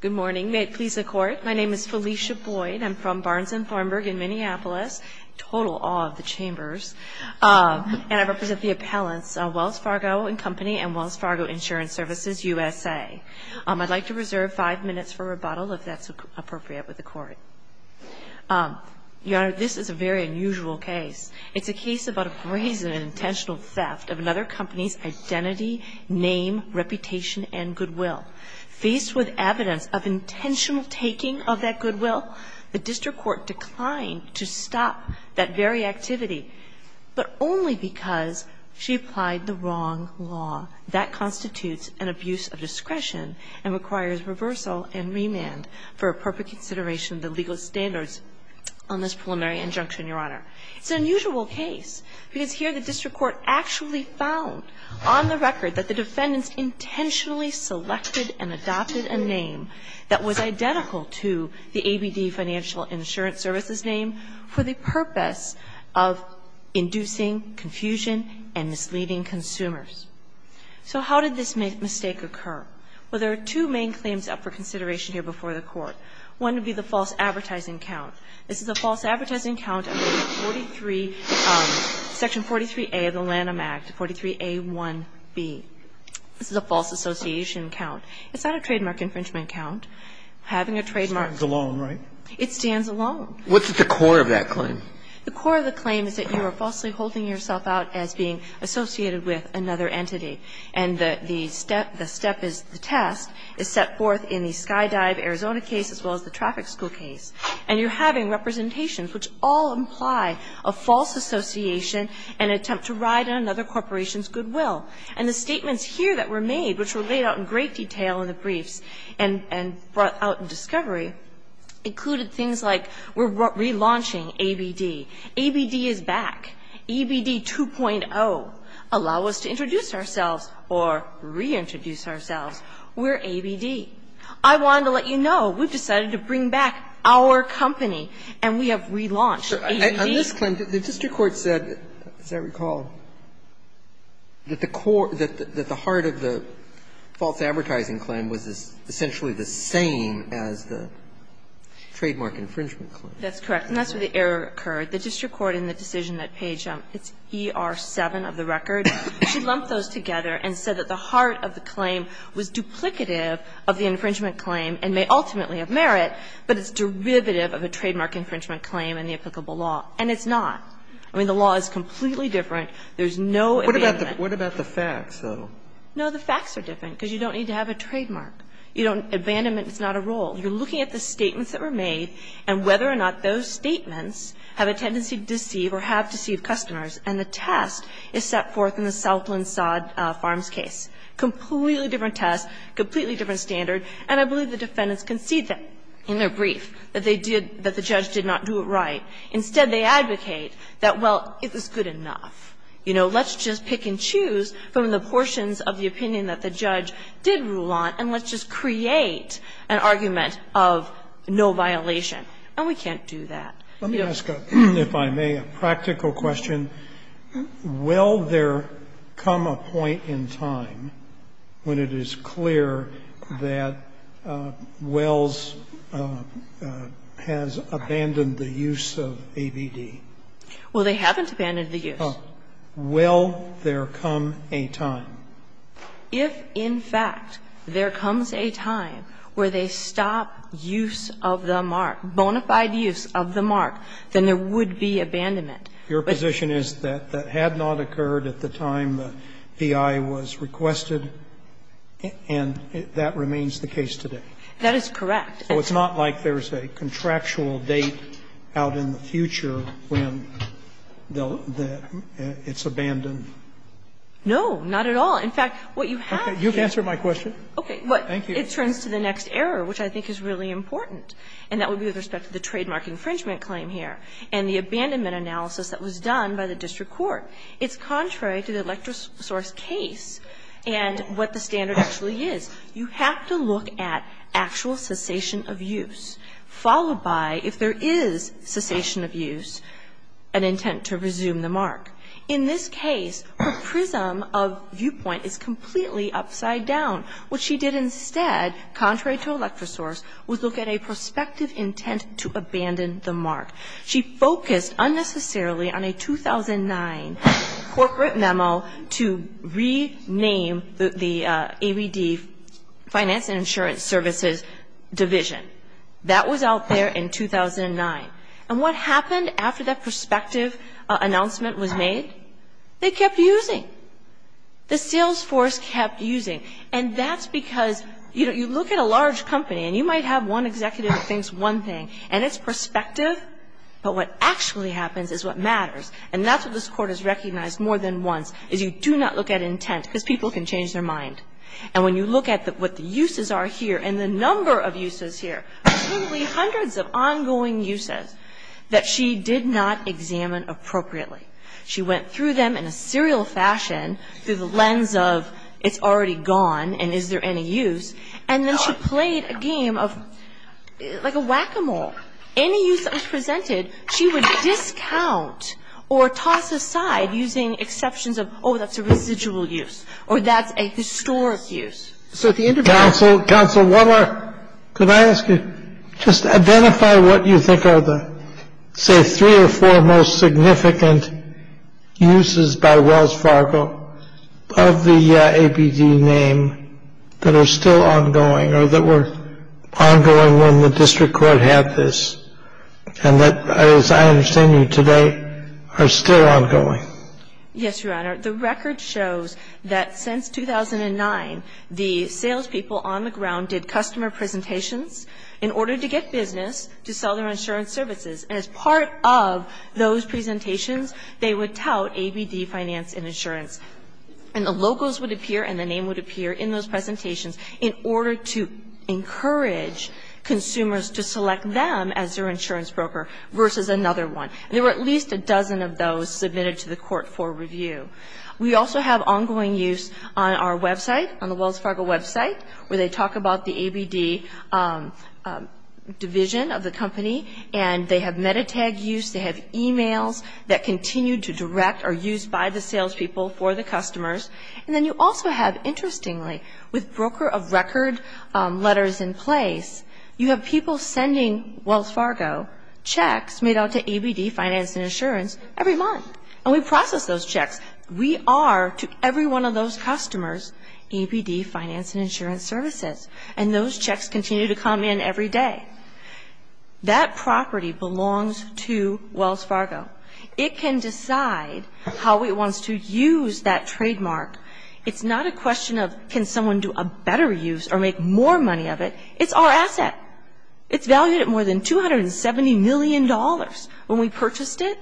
Good morning. May it please the Court, my name is Felicia Boyd. I'm from Barnes & Thornburg in Minneapolis, total awe of the chambers, and I represent the appellants, Wells Fargo & Company and Wells Fargo Insurance Services USA. I'd like to reserve five minutes for rebuttal if that's appropriate with the Court. Your Honor, this is a very unusual case. It's a case of intentional theft of another company's identity, name, reputation, and goodwill. Faced with evidence of intentional taking of that goodwill, the district court declined to stop that very activity, but only because she applied the wrong law. That constitutes an abuse of discretion and requires reversal and remand for appropriate consideration of the legal standards on this preliminary injunction, Your Honor. It's an unusual case, because here the district court actually found on the record that the defendants intentionally selected and adopted a name that was identical to the ABD Financial Insurance Services name for the purpose of inducing confusion and misleading consumers. So how did this mistake occur? Well, there are two main claims up for consideration here before the Court. One would be the false advertising count. This is a false advertising count under the 43, Section 43A of the Lanham Act, 43A1B. This is a false association count. It's not a trademark infringement count. Having a trademark... It stands alone, right? It stands alone. What's at the core of that claim? The core of the claim is that you are falsely holding yourself out as being associated with another entity. And the step is the task is set forth in the Skydive Arizona case as well as the traffic school case. And you're having representations which all imply a false association and attempt to ride on another corporation's goodwill. And the statements here that were made, which were laid out in great detail in the briefs and brought out in discovery, included things like we're relaunching ABD. ABD is back. ABD 2.0, allow us to introduce ourselves or reintroduce ourselves. We're ABD. I wanted to let you know, we've decided to bring back our company and we have relaunched ABD. On this claim, the district court said, as I recall, that the core, that the heart of the false advertising claim was essentially the same as the trademark infringement claim. That's correct. And that's where the error occurred. The district court in the decision that page, it's ER7 of the record, she lumped those together and said that the heart of the claim was duplicative of the infringement claim and may ultimately have merit, but it's derivative of a trademark infringement claim in the applicable law. And it's not. I mean, the law is completely different. There's no abandonment. What about the facts, though? No, the facts are different, because you don't need to have a trademark. You don't need abandonment. It's not a role. You're looking at the statements that were made and whether or not those statements have a tendency to deceive or have deceived customers. And the test is set forth in the Southland Sod Farms case. Completely different test, completely different standard. And I believe the defendants concede that in their brief, that they did, that the judge did not do it right. Instead, they advocate that, well, it was good enough. You know, let's just pick and choose from the portions of the opinion that the judge did rule on, and let's just create an argument of no violation. And we can't do that. Let me ask, if I may, a practical question. Will there come a point in time when it is clear that Wells has abandoned the use of ABD? Well, they haven't abandoned the use. Well, will there come a time? If, in fact, there comes a time where they stop use of the mark, bona fide use of the mark, then there would be abandonment. Your position is that that had not occurred at the time the VI was requested, and that remains the case today? That is correct. So it's not like there's a contractual date out in the future when it's abandoned? No, not at all. In fact, what you have to do is to the next error, which I think is really important, and that would be with respect to the trademark infringement claim here and the abandonment analysis that was done by the district court. It's contrary to the electrosource case and what the standard actually is. You have to look at actual cessation of use, followed by if there is cessation of use, an intent to resume the mark. In this case, her prism of viewpoint is completely upside down. What she did instead, contrary to electrosource, was look at a prospective intent to abandon the mark. She focused unnecessarily on a 2009 corporate memo to rename the AVD finance and insurance services division. That was out there in 2009. And what happened after that prospective announcement was made? They kept using. The sales force kept using. And that's because, you know, you look at a large company, and you might have one executive that thinks one thing. And it's prospective, but what actually happens is what matters. And that's what this Court has recognized more than once, is you do not look at intent, because people can change their mind. And when you look at what the uses are here and the number of uses here, hundreds of ongoing uses that she did not examine appropriately, she went through them in a serial fashion through the lens of it's already gone and is there any use, and then she played a game of, like a whack-a-mole. Any use that was presented, she would discount or toss aside using exceptions of, oh, that's a residual use, or that's a historic use. So at the end of the day... Counsel, one more. Could I ask you, just identify what you think are the, say, three or four most significant uses by Wells Fargo of the APD name that are still ongoing, or that were ongoing when the District Court had this, and that, as I understand you today, are still ongoing? Yes, Your Honor. The record shows that since 2009, the salespeople on the ground did customer presentations in order to get business to sell their insurance services. And as part of those presentations, they would tout ABD Finance and Insurance. And the logos would appear and the name would appear in those presentations in order to encourage consumers to select them as their insurance broker versus another one. And there were at least a dozen of those submitted to the court for review. We also have ongoing use on our website, on the Wells Fargo website, where they talk about the ABD division of the company, and they have metatag use, they have emails that continue to direct or use by the salespeople for the customers. And then you also have, interestingly, with broker of record letters in place, you have people sending Wells Fargo checks made out to ABD Finance and Insurance every month. And we process those checks. We are, to every one of those customers, ABD Finance and Insurance Services. And those checks continue to come in every day. That property belongs to Wells Fargo. It can decide how it wants to use that trademark. It's not a question of can someone do a better use or make more money of it. It's our asset. It's valued at more than $270 million when we purchased it.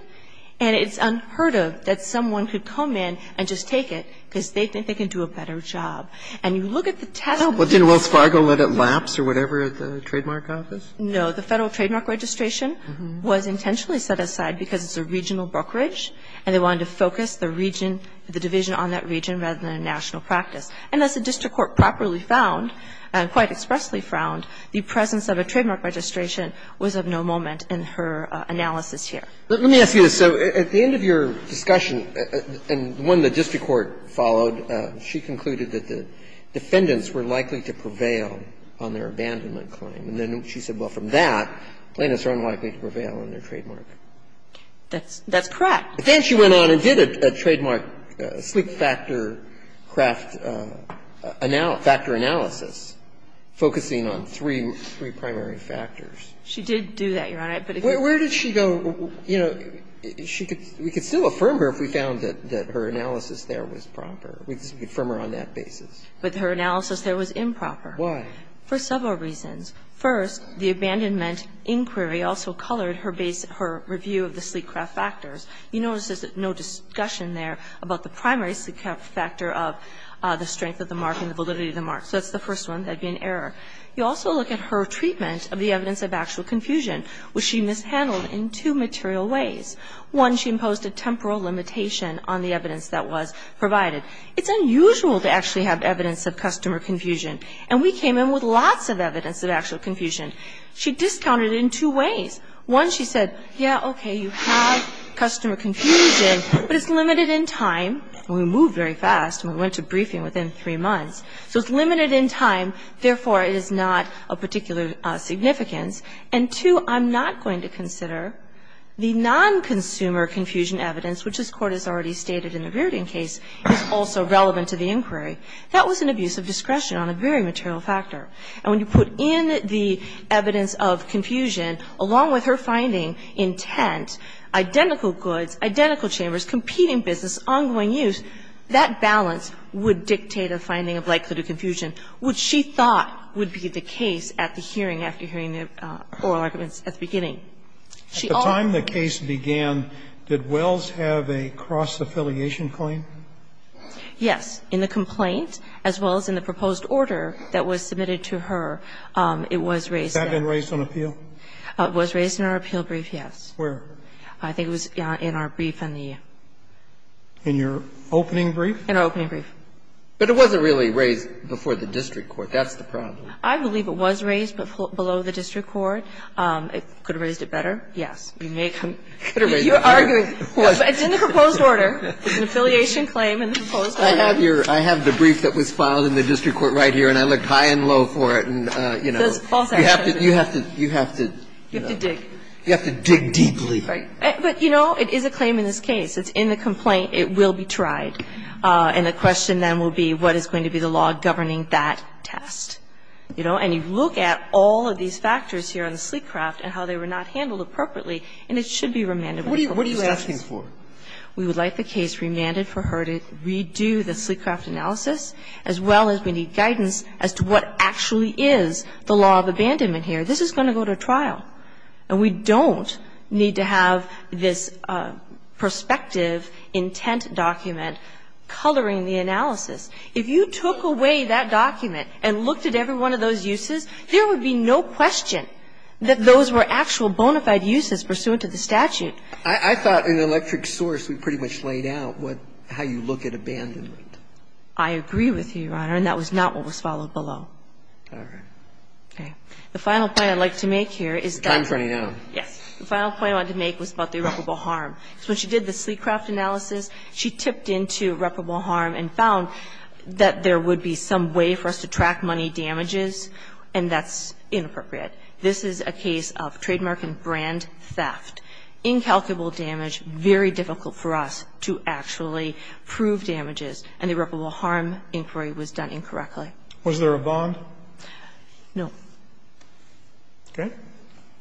And it's unheard of that someone could come in and just take it because they think they can do a better job. And you look at the test. But didn't Wells Fargo let it lapse or whatever at the trademark office? No. The Federal Trademark Registration was intentionally set aside because it's a regional brokerage, and they wanted to focus the region, the division on that region, rather than a national practice. And as the district court properly found, and quite expressly found, the presence of a trademark registration was of no moment in her analysis here. Let me ask you this. So at the end of your discussion, and one the district court followed, she concluded that the defendants were likely to prevail on their abandonment claim. And then she said, well, from that, plaintiffs are unlikely to prevail on their trademark. That's correct. But then she went on and did a trademark sleep factor craft analysis, focusing on three primary factors. She did do that, Your Honor. Where did she go? You know, we could still affirm her if we found that her analysis there was proper. We could affirm her on that basis. With her analysis there was improper. Why? For several reasons. First, the abandonment inquiry also colored her review of the sleep craft factors. You notice there's no discussion there about the primary sleep craft factor of the strength of the mark and the validity of the mark. So that's the first one. That would be an error. You also look at her treatment of the evidence of actual confusion, which she mishandled in two material ways. One, she imposed a temporal limitation on the evidence that was provided. It's unusual to actually have evidence of customer confusion. And we came in with lots of evidence of actual confusion. She discounted it in two ways. One, she said, yeah, okay, you have customer confusion, but it's limited in time. And we moved very fast, and we went to briefing within three months. So it's limited in time, therefore, it is not of particular significance. And two, I'm not going to consider the non-consumer confusion evidence, which this is also relevant to the inquiry. That was an abuse of discretion on a very material factor. And when you put in the evidence of confusion, along with her finding intent, identical goods, identical chambers, competing business, ongoing use, that balance would dictate a finding of likelihood of confusion, which she thought would be the case at the hearing, after hearing the oral arguments at the beginning. She offered. And that's a reason. But when the case began, did Wells have a cross-affiliation claim? Yes. In the complaint, as well as in the proposed order that was submitted to her, it was raised. Has that been raised on appeal? It was raised in our appeal brief, yes. Where? I think it was in our brief in the year. In your opening brief? In our opening brief. But it wasn't really raised before the district court. That's the problem. I believe it was raised below the district court. It could have raised it better. Yes. You're arguing. It's in the proposed order. It's an affiliation claim in the proposed order. I have the brief that was filed in the district court right here, and I looked high and low for it. You have to dig. You have to dig deeply. But, you know, it is a claim in this case. It's in the complaint. It will be tried. And the question then will be what is going to be the law governing that test. You know? And you look at all of these factors here on the sleep craft and how they were not handled appropriately, and it should be remanded. What are you asking for? We would like the case remanded for her to redo the sleep craft analysis, as well as we need guidance as to what actually is the law of abandonment here. This is going to go to trial. And we don't need to have this prospective intent document coloring the analysis. If you took away that document and looked at every one of those uses, there would be no question that those were actual bona fide uses pursuant to the statute. I thought in the electric source we pretty much laid out how you look at abandonment. I agree with you, Your Honor, and that was not what was followed below. All right. The final point I'd like to make here is that. Your time is running out. Yes. The final point I wanted to make was about the irreparable harm. When she did the sleep craft analysis, she tipped into irreparable harm and found that there would be some way for us to track money damages, and that's inappropriate. This is a case of trademark and brand theft. Incalculable damage, very difficult for us to actually prove damages, and the irreparable harm inquiry was done incorrectly. Was there a bond? No. Okay.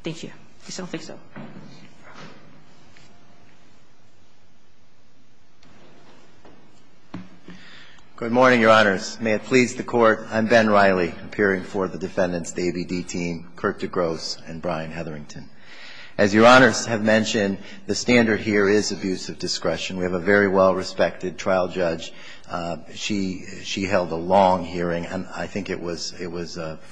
Thank you. I don't think so. Good morning, Your Honors. May it please the Court. I'm Ben Riley, appearing for the defendants, the ABD team, Kirk DeGrosse and Brian Hetherington. As Your Honors have mentioned, the standard here is abuse of discretion. We have a very well-respected trial judge. She held a long hearing. I think it was a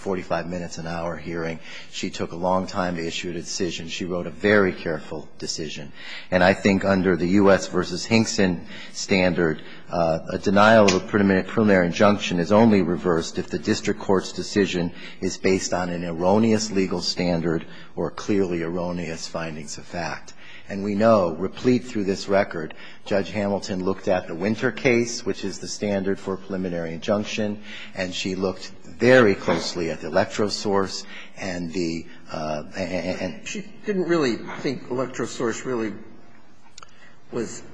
45-minute to an hour hearing. She took a long time to issue the decision. She wrote a very careful decision. And I think under the U.S. versus Hinkson standard, a denial of a preliminary injunction is only reversed if the district court's decision is based on an erroneous legal standard or clearly erroneous findings of fact. And we know, replete through this record, Judge Hamilton looked at the Winter case, which is the standard for a preliminary injunction, and she looked very closely at the electrosource and the ‑‑ She didn't really think electrosource really was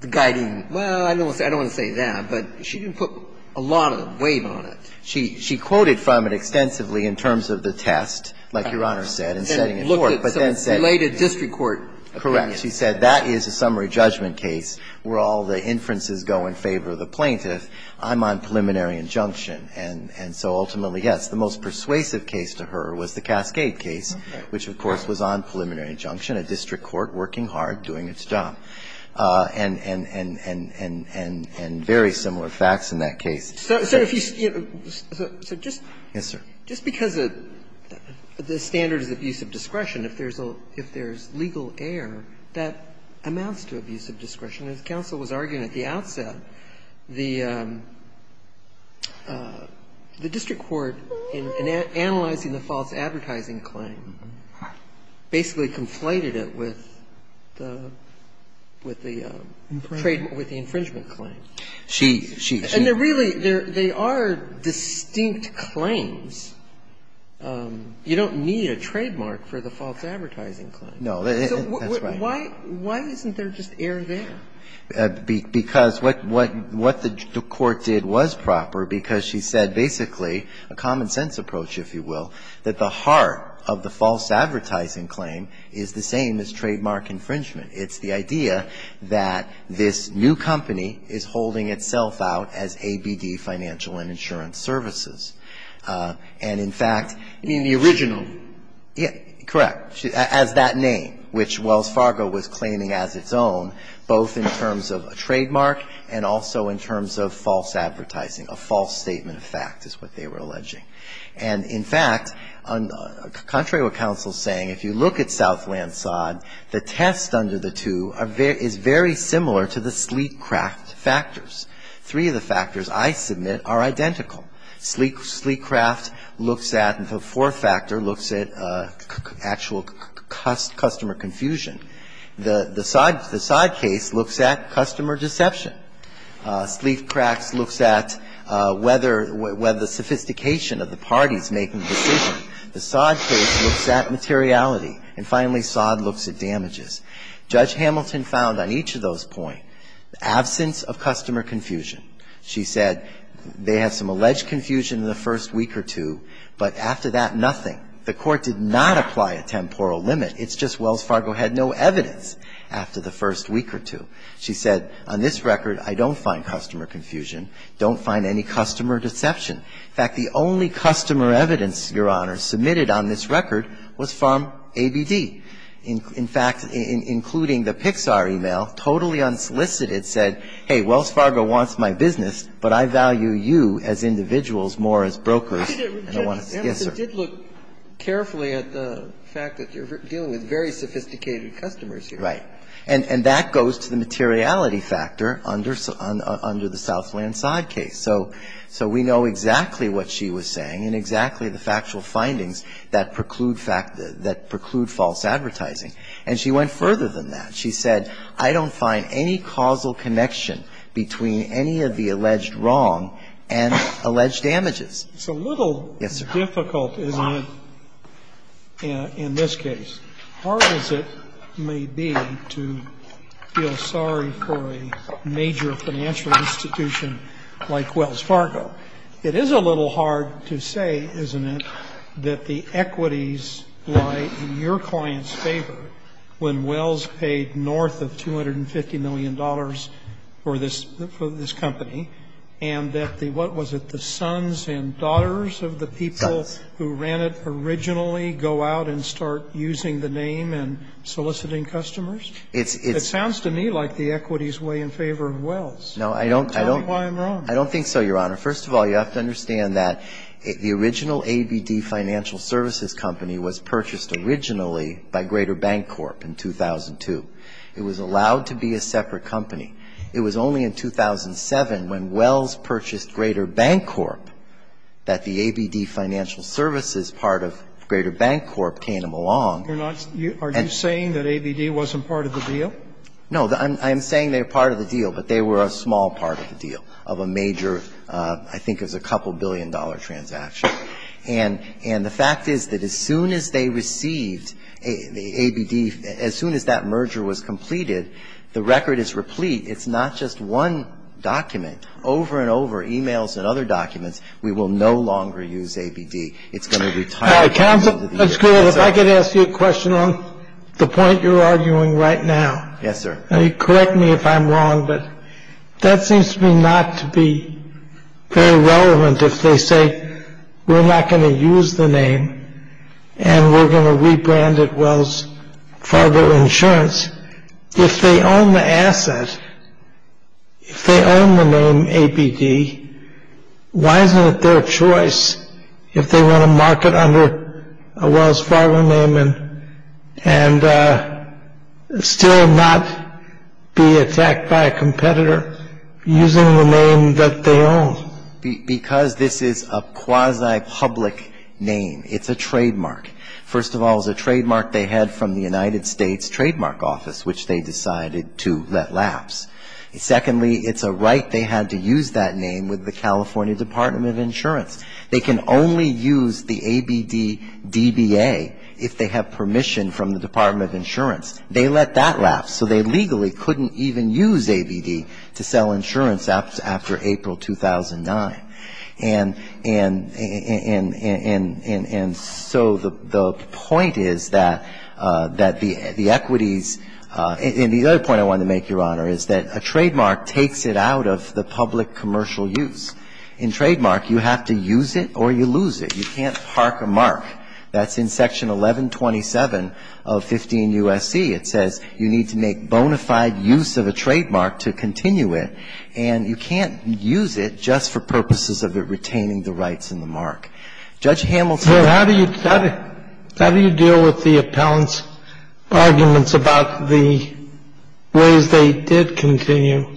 the guiding ‑‑ well, I don't want to say that, but she didn't put a lot of weight on it. She quoted from it extensively in terms of the test, like Your Honor said, and setting it forth. And looked at some related district court opinions. Correct. She said that is a summary judgment case where all the inferences go in favor of the plaintiff. I'm on preliminary injunction. And so ultimately, yes, the most persuasive case to her was the Cascade case, which of course was on preliminary injunction, a district court working hard, doing its job. And very similar facts in that case. So if you ‑‑ so just ‑‑ Yes, sir. Just because the standard is abuse of discretion, if there is legal error, that amounts to abuse of discretion. As counsel was arguing at the outset, the district court, in analyzing the false advertising claim, basically conflated it with the ‑‑ with the ‑‑ Infringement. With the infringement claim. She ‑‑ And they're really ‑‑ they are distinct claims. You don't need a trademark for the false advertising claim. No. That's right. Why isn't there just error there? Because what the court did was proper, because she said basically a common sense approach, if you will, that the heart of the false advertising claim is the same as trademark infringement. It's the idea that this new company is holding itself out as ABD Financial and Insurance Services. And in fact ‑‑ You mean the original? Yeah. Correct. As that name, which Wells Fargo was claiming as its own, both in terms of a trademark and also in terms of false advertising, a false statement of fact is what they were alleging. And in fact, contrary to what counsel is saying, if you look at Southland Sod, the test under the two is very similar to the Sleekcraft factors. Three of the factors I submit are identical. Sleekcraft looks at the fourth factor, looks at actual customer confusion. The Sod case looks at customer deception. Sleekcraft looks at whether the sophistication of the parties making the decision. The Sod case looks at materiality. And finally, Sod looks at damages. Judge Hamilton found on each of those points absence of customer confusion. She said they had some alleged confusion in the first week or two, but after that, nothing. The Court did not apply a temporal limit. It's just Wells Fargo had no evidence after the first week or two. She said, on this record, I don't find customer confusion, don't find any customer deception. In fact, the only customer evidence, Your Honor, submitted on this record was from ABD. In fact, including the Pixar e-mail, totally unsolicited, said, hey, Wells Fargo wants my business, but I value you as individuals more as brokers. And I want to say, yes, sir. You did look carefully at the fact that you're dealing with very sophisticated customers here. Right. And that goes to the materiality factor under the Southland Sod case. So we know exactly what she was saying and exactly the factual findings that preclude false advertising. And she went further than that. She said, I don't find any causal connection between any of the alleged wrong and alleged damages. Yes, sir. It's a little difficult in this case, hard as it may be to feel sorry for a major financial institution like Wells Fargo. It is a little hard to say, isn't it, that the equities lie in your client's favor when Wells paid north of $250 million for this company and that the, what was it, the sons and daughters of the people who ran it originally go out and start using the name and soliciting customers? It sounds to me like the equities weigh in favor of Wells. No, I don't. Tell me why I'm wrong. I don't think so, Your Honor. First of all, you have to understand that the original ABD Financial Services company was purchased originally by Greater Bank Corp. in 2002. It was allowed to be a separate company. It was only in 2007 when Wells purchased Greater Bank Corp. that the ABD Financial Services part of Greater Bank Corp. came along. Are you saying that ABD wasn't part of the deal? No, I'm saying they were part of the deal, but they were a small part of the deal of a major, I think it was a couple billion-dollar transaction. And the fact is that as soon as they received the ABD, as soon as that merger was completed, the record is replete. It's not just one document. Over and over, e-mails and other documents, we will no longer use ABD. It's going to retire. Counsel, if I could ask you a question on the point you're arguing right now. Yes, sir. Correct me if I'm wrong, but that seems to me not to be very relevant if they say we're not going to use the name and we're going to rebrand it Wells Fargo Insurance. If they own the asset, if they own the name ABD, why isn't it their choice if they want to market under a Wells Fargo name and still not be attacked by a competitor using the name that they own? Because this is a quasi-public name. It's a trademark. First of all, it's a trademark they had from the United States Trademark Office, which they decided to let lapse. Secondly, it's a right they had to use that name with the California Department of Insurance. They can only use the ABD DBA if they have permission from the Department of Insurance. They let that lapse. So they legally couldn't even use ABD to sell insurance after April 2009. And so the point is that the equities, and the other point I wanted to make, Your Honor, is that a trademark takes it out of the public commercial use. In trademark, you have to use it or you lose it. You can't park a mark. That's in Section 1127 of 15 U.S.C. It says you need to make bona fide use of a trademark to continue it. And you can't use it just for purposes of retaining the rights and the mark. Judge Hamilton. So how do you deal with the appellant's arguments about the ways they did continue,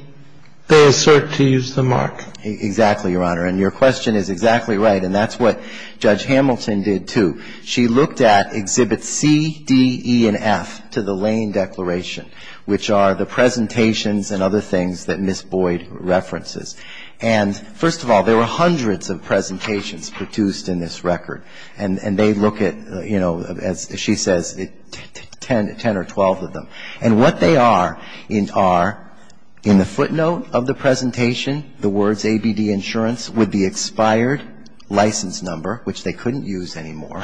they assert to use the mark? Exactly, Your Honor. And your question is exactly right. And that's what Judge Hamilton did, too. She looked at Exhibits C, D, E, and F to the Lane Declaration, which are the presentations and other things that Ms. Boyd references. And first of all, there were hundreds of presentations produced in this record. And they look at, you know, as she says, 10 or 12 of them. And what they are are, in the footnote of the presentation, the words ABD insurance with the expired license number, which they couldn't use anymore.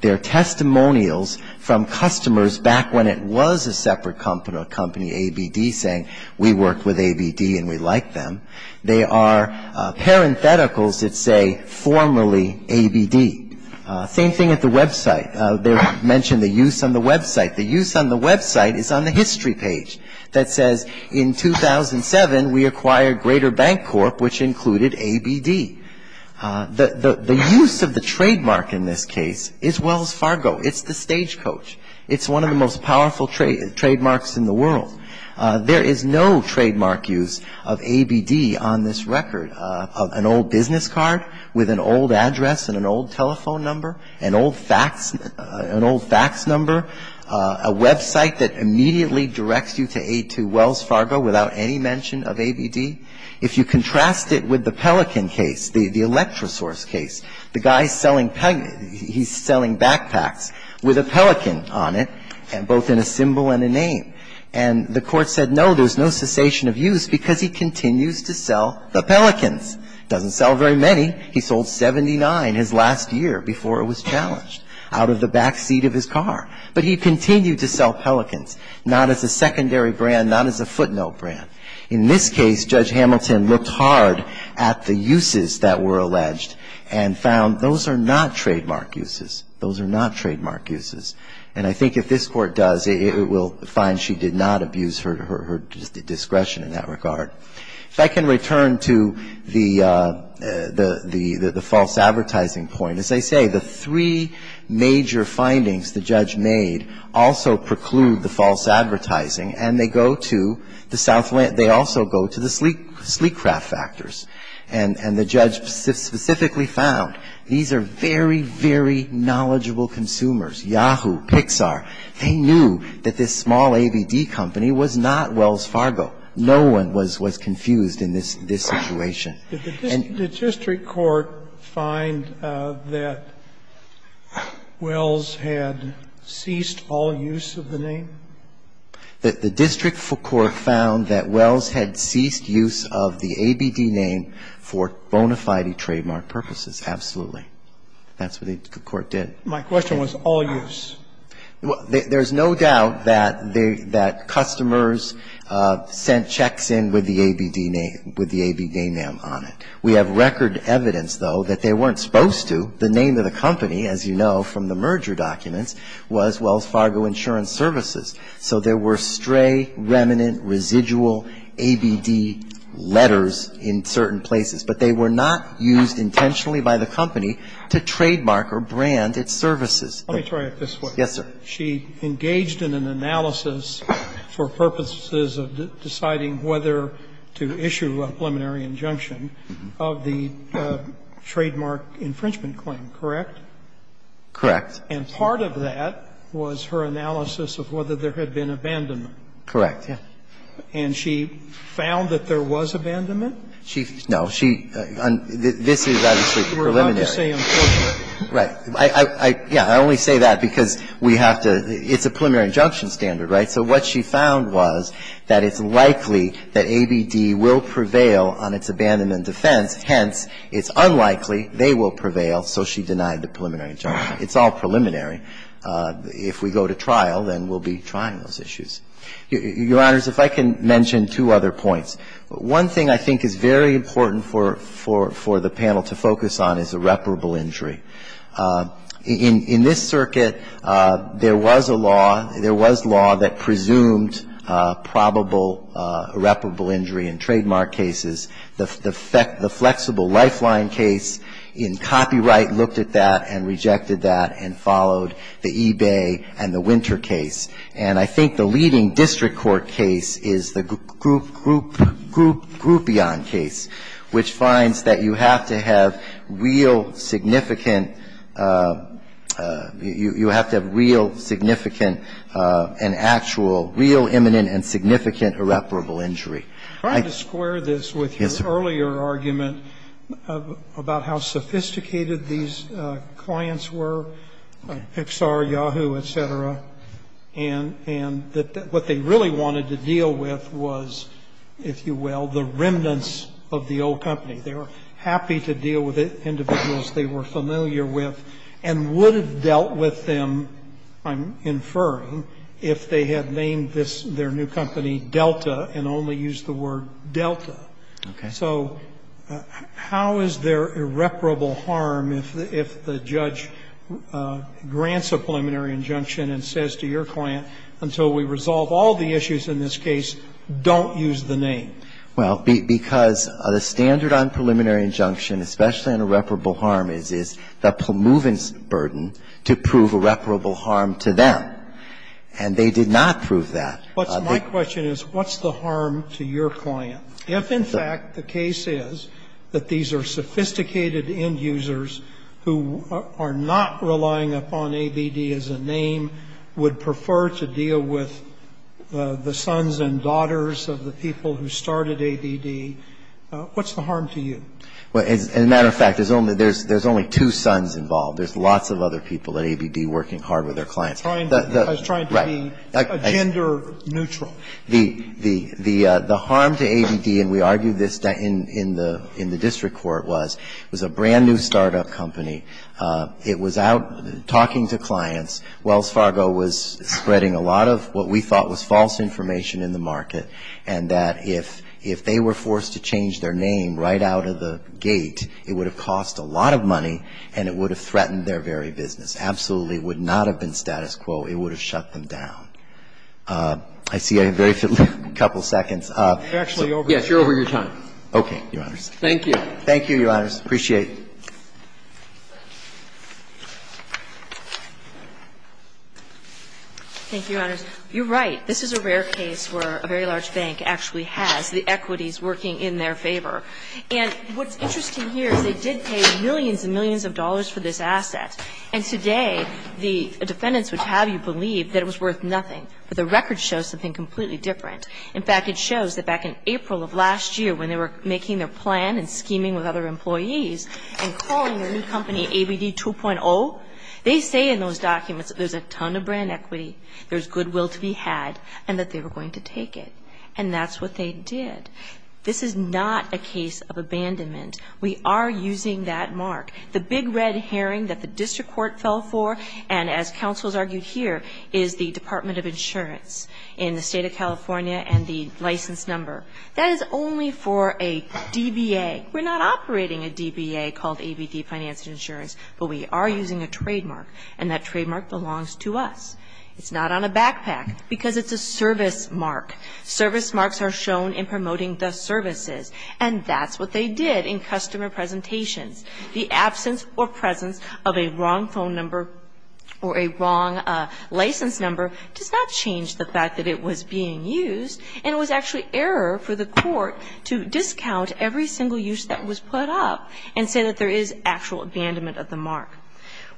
They are testimonials from customers back when it was a separate company, ABD, saying we worked with ABD and we like them. They are parentheticals that say formerly ABD. Same thing at the website. They mention the use on the website. The use on the website is on the history page that says, in 2007 we acquired Greater Bank Corp., which included ABD. The use of the trademark in this case is Wells Fargo. It's the stagecoach. It's one of the most powerful trademarks in the world. There is no trademark use of ABD on this record. An old business card with an old address and an old telephone number, an old fax number, a website that immediately directs you to A2 Wells Fargo without any mention of ABD. If you contrast it with the Pelican case, the electrosource case, the guy is selling backpacks with a pelican on it, both in a symbol and a name. And the Court said, no, there is no cessation of use because he continues to sell the pelicans. Doesn't sell very many. He sold 79 his last year before it was challenged out of the backseat of his car. But he continued to sell pelicans, not as a secondary brand, not as a footnote brand. In this case, Judge Hamilton looked hard at the uses that were alleged and found those are not trademark uses. Those are not trademark uses. And I think if this Court does, it will find she did not abuse her discretion in that regard. If I can return to the false advertising point. As I say, the three major findings the judge made also preclude the false advertising and they go to the sleek craft factors. And the judge specifically found these are very, very knowledgeable consumers, Yahoo, Pixar. They knew that this small ABD company was not Wells Fargo. No one was confused in this situation. Did the district court find that Wells had ceased all use of the name? The district court found that Wells had ceased use of the ABD name for bona fide trademark purposes. Absolutely. That's what the court did. My question was all use. There's no doubt that customers sent checks in with the ABD name on it. We have record evidence, though, that they weren't supposed to. The name of the company, as you know from the merger documents, was Wells Fargo Insurance Services. So there were stray, remnant, residual ABD letters in certain places. But they were not used intentionally by the company to trademark or brand its services. Let me try it this way. Yes, sir. She engaged in an analysis for purposes of deciding whether to issue a preliminary injunction of the trademark infringement claim, correct? Correct. And part of that was her analysis of whether there had been abandonment. Correct, yes. And she found that there was abandonment? No. This is obviously preliminary. Right. I only say that because we have to – it's a preliminary injunction standard, right? So what she found was that it's likely that ABD will prevail on its abandonment defense. Hence, it's unlikely they will prevail, so she denied the preliminary injunction. It's all preliminary. If we go to trial, then we'll be trying those issues. Your Honors, if I can mention two other points. One thing I think is very important for the panel to focus on is irreparable injury. In this circuit, there was a law – there was law that presumed probable irreparable injury in trademark cases. The flexible lifeline case in copyright looked at that and rejected that and followed the eBay and the Winter case. And I think the leading district court case is the Groupion case, which finds that you have to have real significant – you have to have real significant and actual – real imminent and significant irreparable injury. Trying to square this with your earlier argument about how sophisticated these clients were, Pixar, Yahoo, et cetera, and that what they really wanted to deal with was, if you will, the remnants of the old company. They were happy to deal with individuals they were familiar with and would have dealt with them, I'm inferring, if they had named this – their new company Delta and only used the word Delta. Okay. So how is there irreparable harm if the judge grants a preliminary injunction and says to your client, until we resolve all the issues in this case, don't use the name? Well, because the standard on preliminary injunction, especially on irreparable harm, is the promovence burden to prove irreparable harm to them. And they did not prove that. My question is, what's the harm to your client? If, in fact, the case is that these are sophisticated end users who are not relying upon ABD as a name, would prefer to deal with the sons and daughters of the people who started ABD, what's the harm to you? As a matter of fact, there's only two sons involved. There's lots of other people at ABD working hard with their clients. I was trying to be gender neutral. The harm to ABD, and we argued this in the district court, was it was a brand new startup company. It was out talking to clients. Wells Fargo was spreading a lot of what we thought was false information in the market. And that if they were forced to change their name right out of the gate, it would have cost a lot of money and it would have threatened their very business. Absolutely would not have been status quo. It would have shut them down. I see I have very few, a couple seconds. You're actually over. Yes, you're over your time. Okay, Your Honors. Thank you. Thank you, Your Honors. Appreciate it. Thank you, Your Honors. You're right. This is a rare case where a very large bank actually has the equities working in their favor. And what's interesting here is they did pay millions and millions of dollars for this asset. And today the defendants would have you believe that it was worth nothing. But the record shows something completely different. In fact, it shows that back in April of last year when they were making their plan and scheming with other employees and calling their new company ABD 2.0, they say in those documents that there's a ton of brand equity, there's goodwill to be had, and that they were going to take it. And that's what they did. This is not a case of abandonment. We are using that mark. The big red herring that the district court fell for and, as counsels argued here, is the Department of Insurance in the State of California and the license number. That is only for a DBA. We're not operating a DBA called ABD Finance and Insurance, but we are using a trademark, and that trademark belongs to us. It's not on a backpack because it's a service mark. Service marks are shown in promoting the services, and that's what they did in customer presentations. The absence or presence of a wrong phone number or a wrong license number does not change the fact that it was being used and it was actually error for the court to discount every single use that was put up and say that there is actual abandonment of the mark.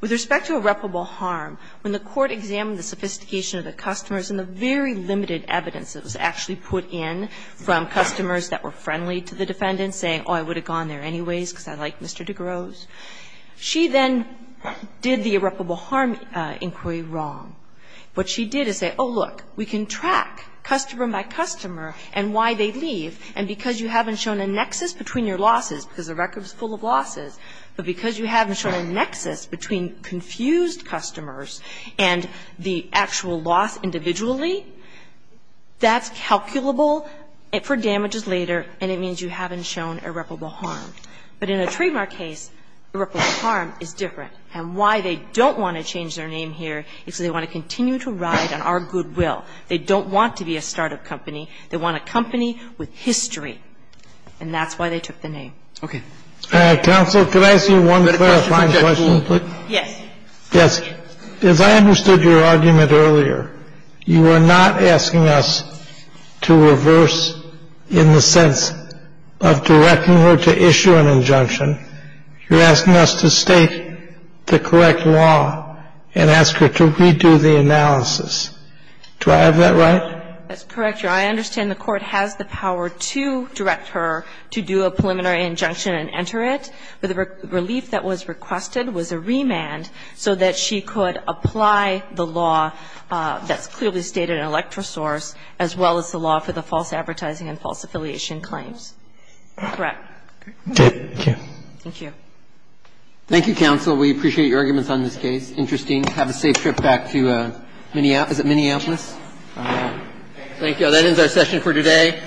With respect to irreparable harm, when the court examined the sophistication of the customers and the very limited evidence that was actually put in from customers that were friendly to the defendant, saying, oh, I would have gone there anyways because I like Mr. DeGrosse, she then did the irreparable harm inquiry wrong. What she did is say, oh, look, we can track customer by customer and why they leave, and because you haven't shown a nexus between your losses, because the record is full of losses, but because you haven't shown a nexus between confused customers and the actual loss individually, that's calculable for damages later, and it means you haven't shown irreparable harm. But in a trademark case, irreparable harm is different. And that's why they took the name. And why they don't want to change their name here is because they want to continue to ride on our goodwill. They don't want to be a start-up company. They want a company with history. And that's why they took the name. Roberts. Okay. Counsel, could I ask you one clarifying question? Yes. Yes. As I understood your argument earlier, you are not asking us to reverse in the sense of directing her to issue an injunction. You're asking us to state the correct law and ask her to redo the analysis. Do I have that right? That's correct, Your Honor. I understand the Court has the power to direct her to do a preliminary injunction and enter it. But the relief that was requested was a remand so that she could apply the law that's clearly stated in electrosource as well as the law for the false advertising and false affiliation claims. Correct? Correct. Thank you. Thank you. Thank you, counsel. We appreciate your arguments on this case. Have a safe trip back to Minneapolis. Is it Minneapolis? Thank you. That ends our session for today.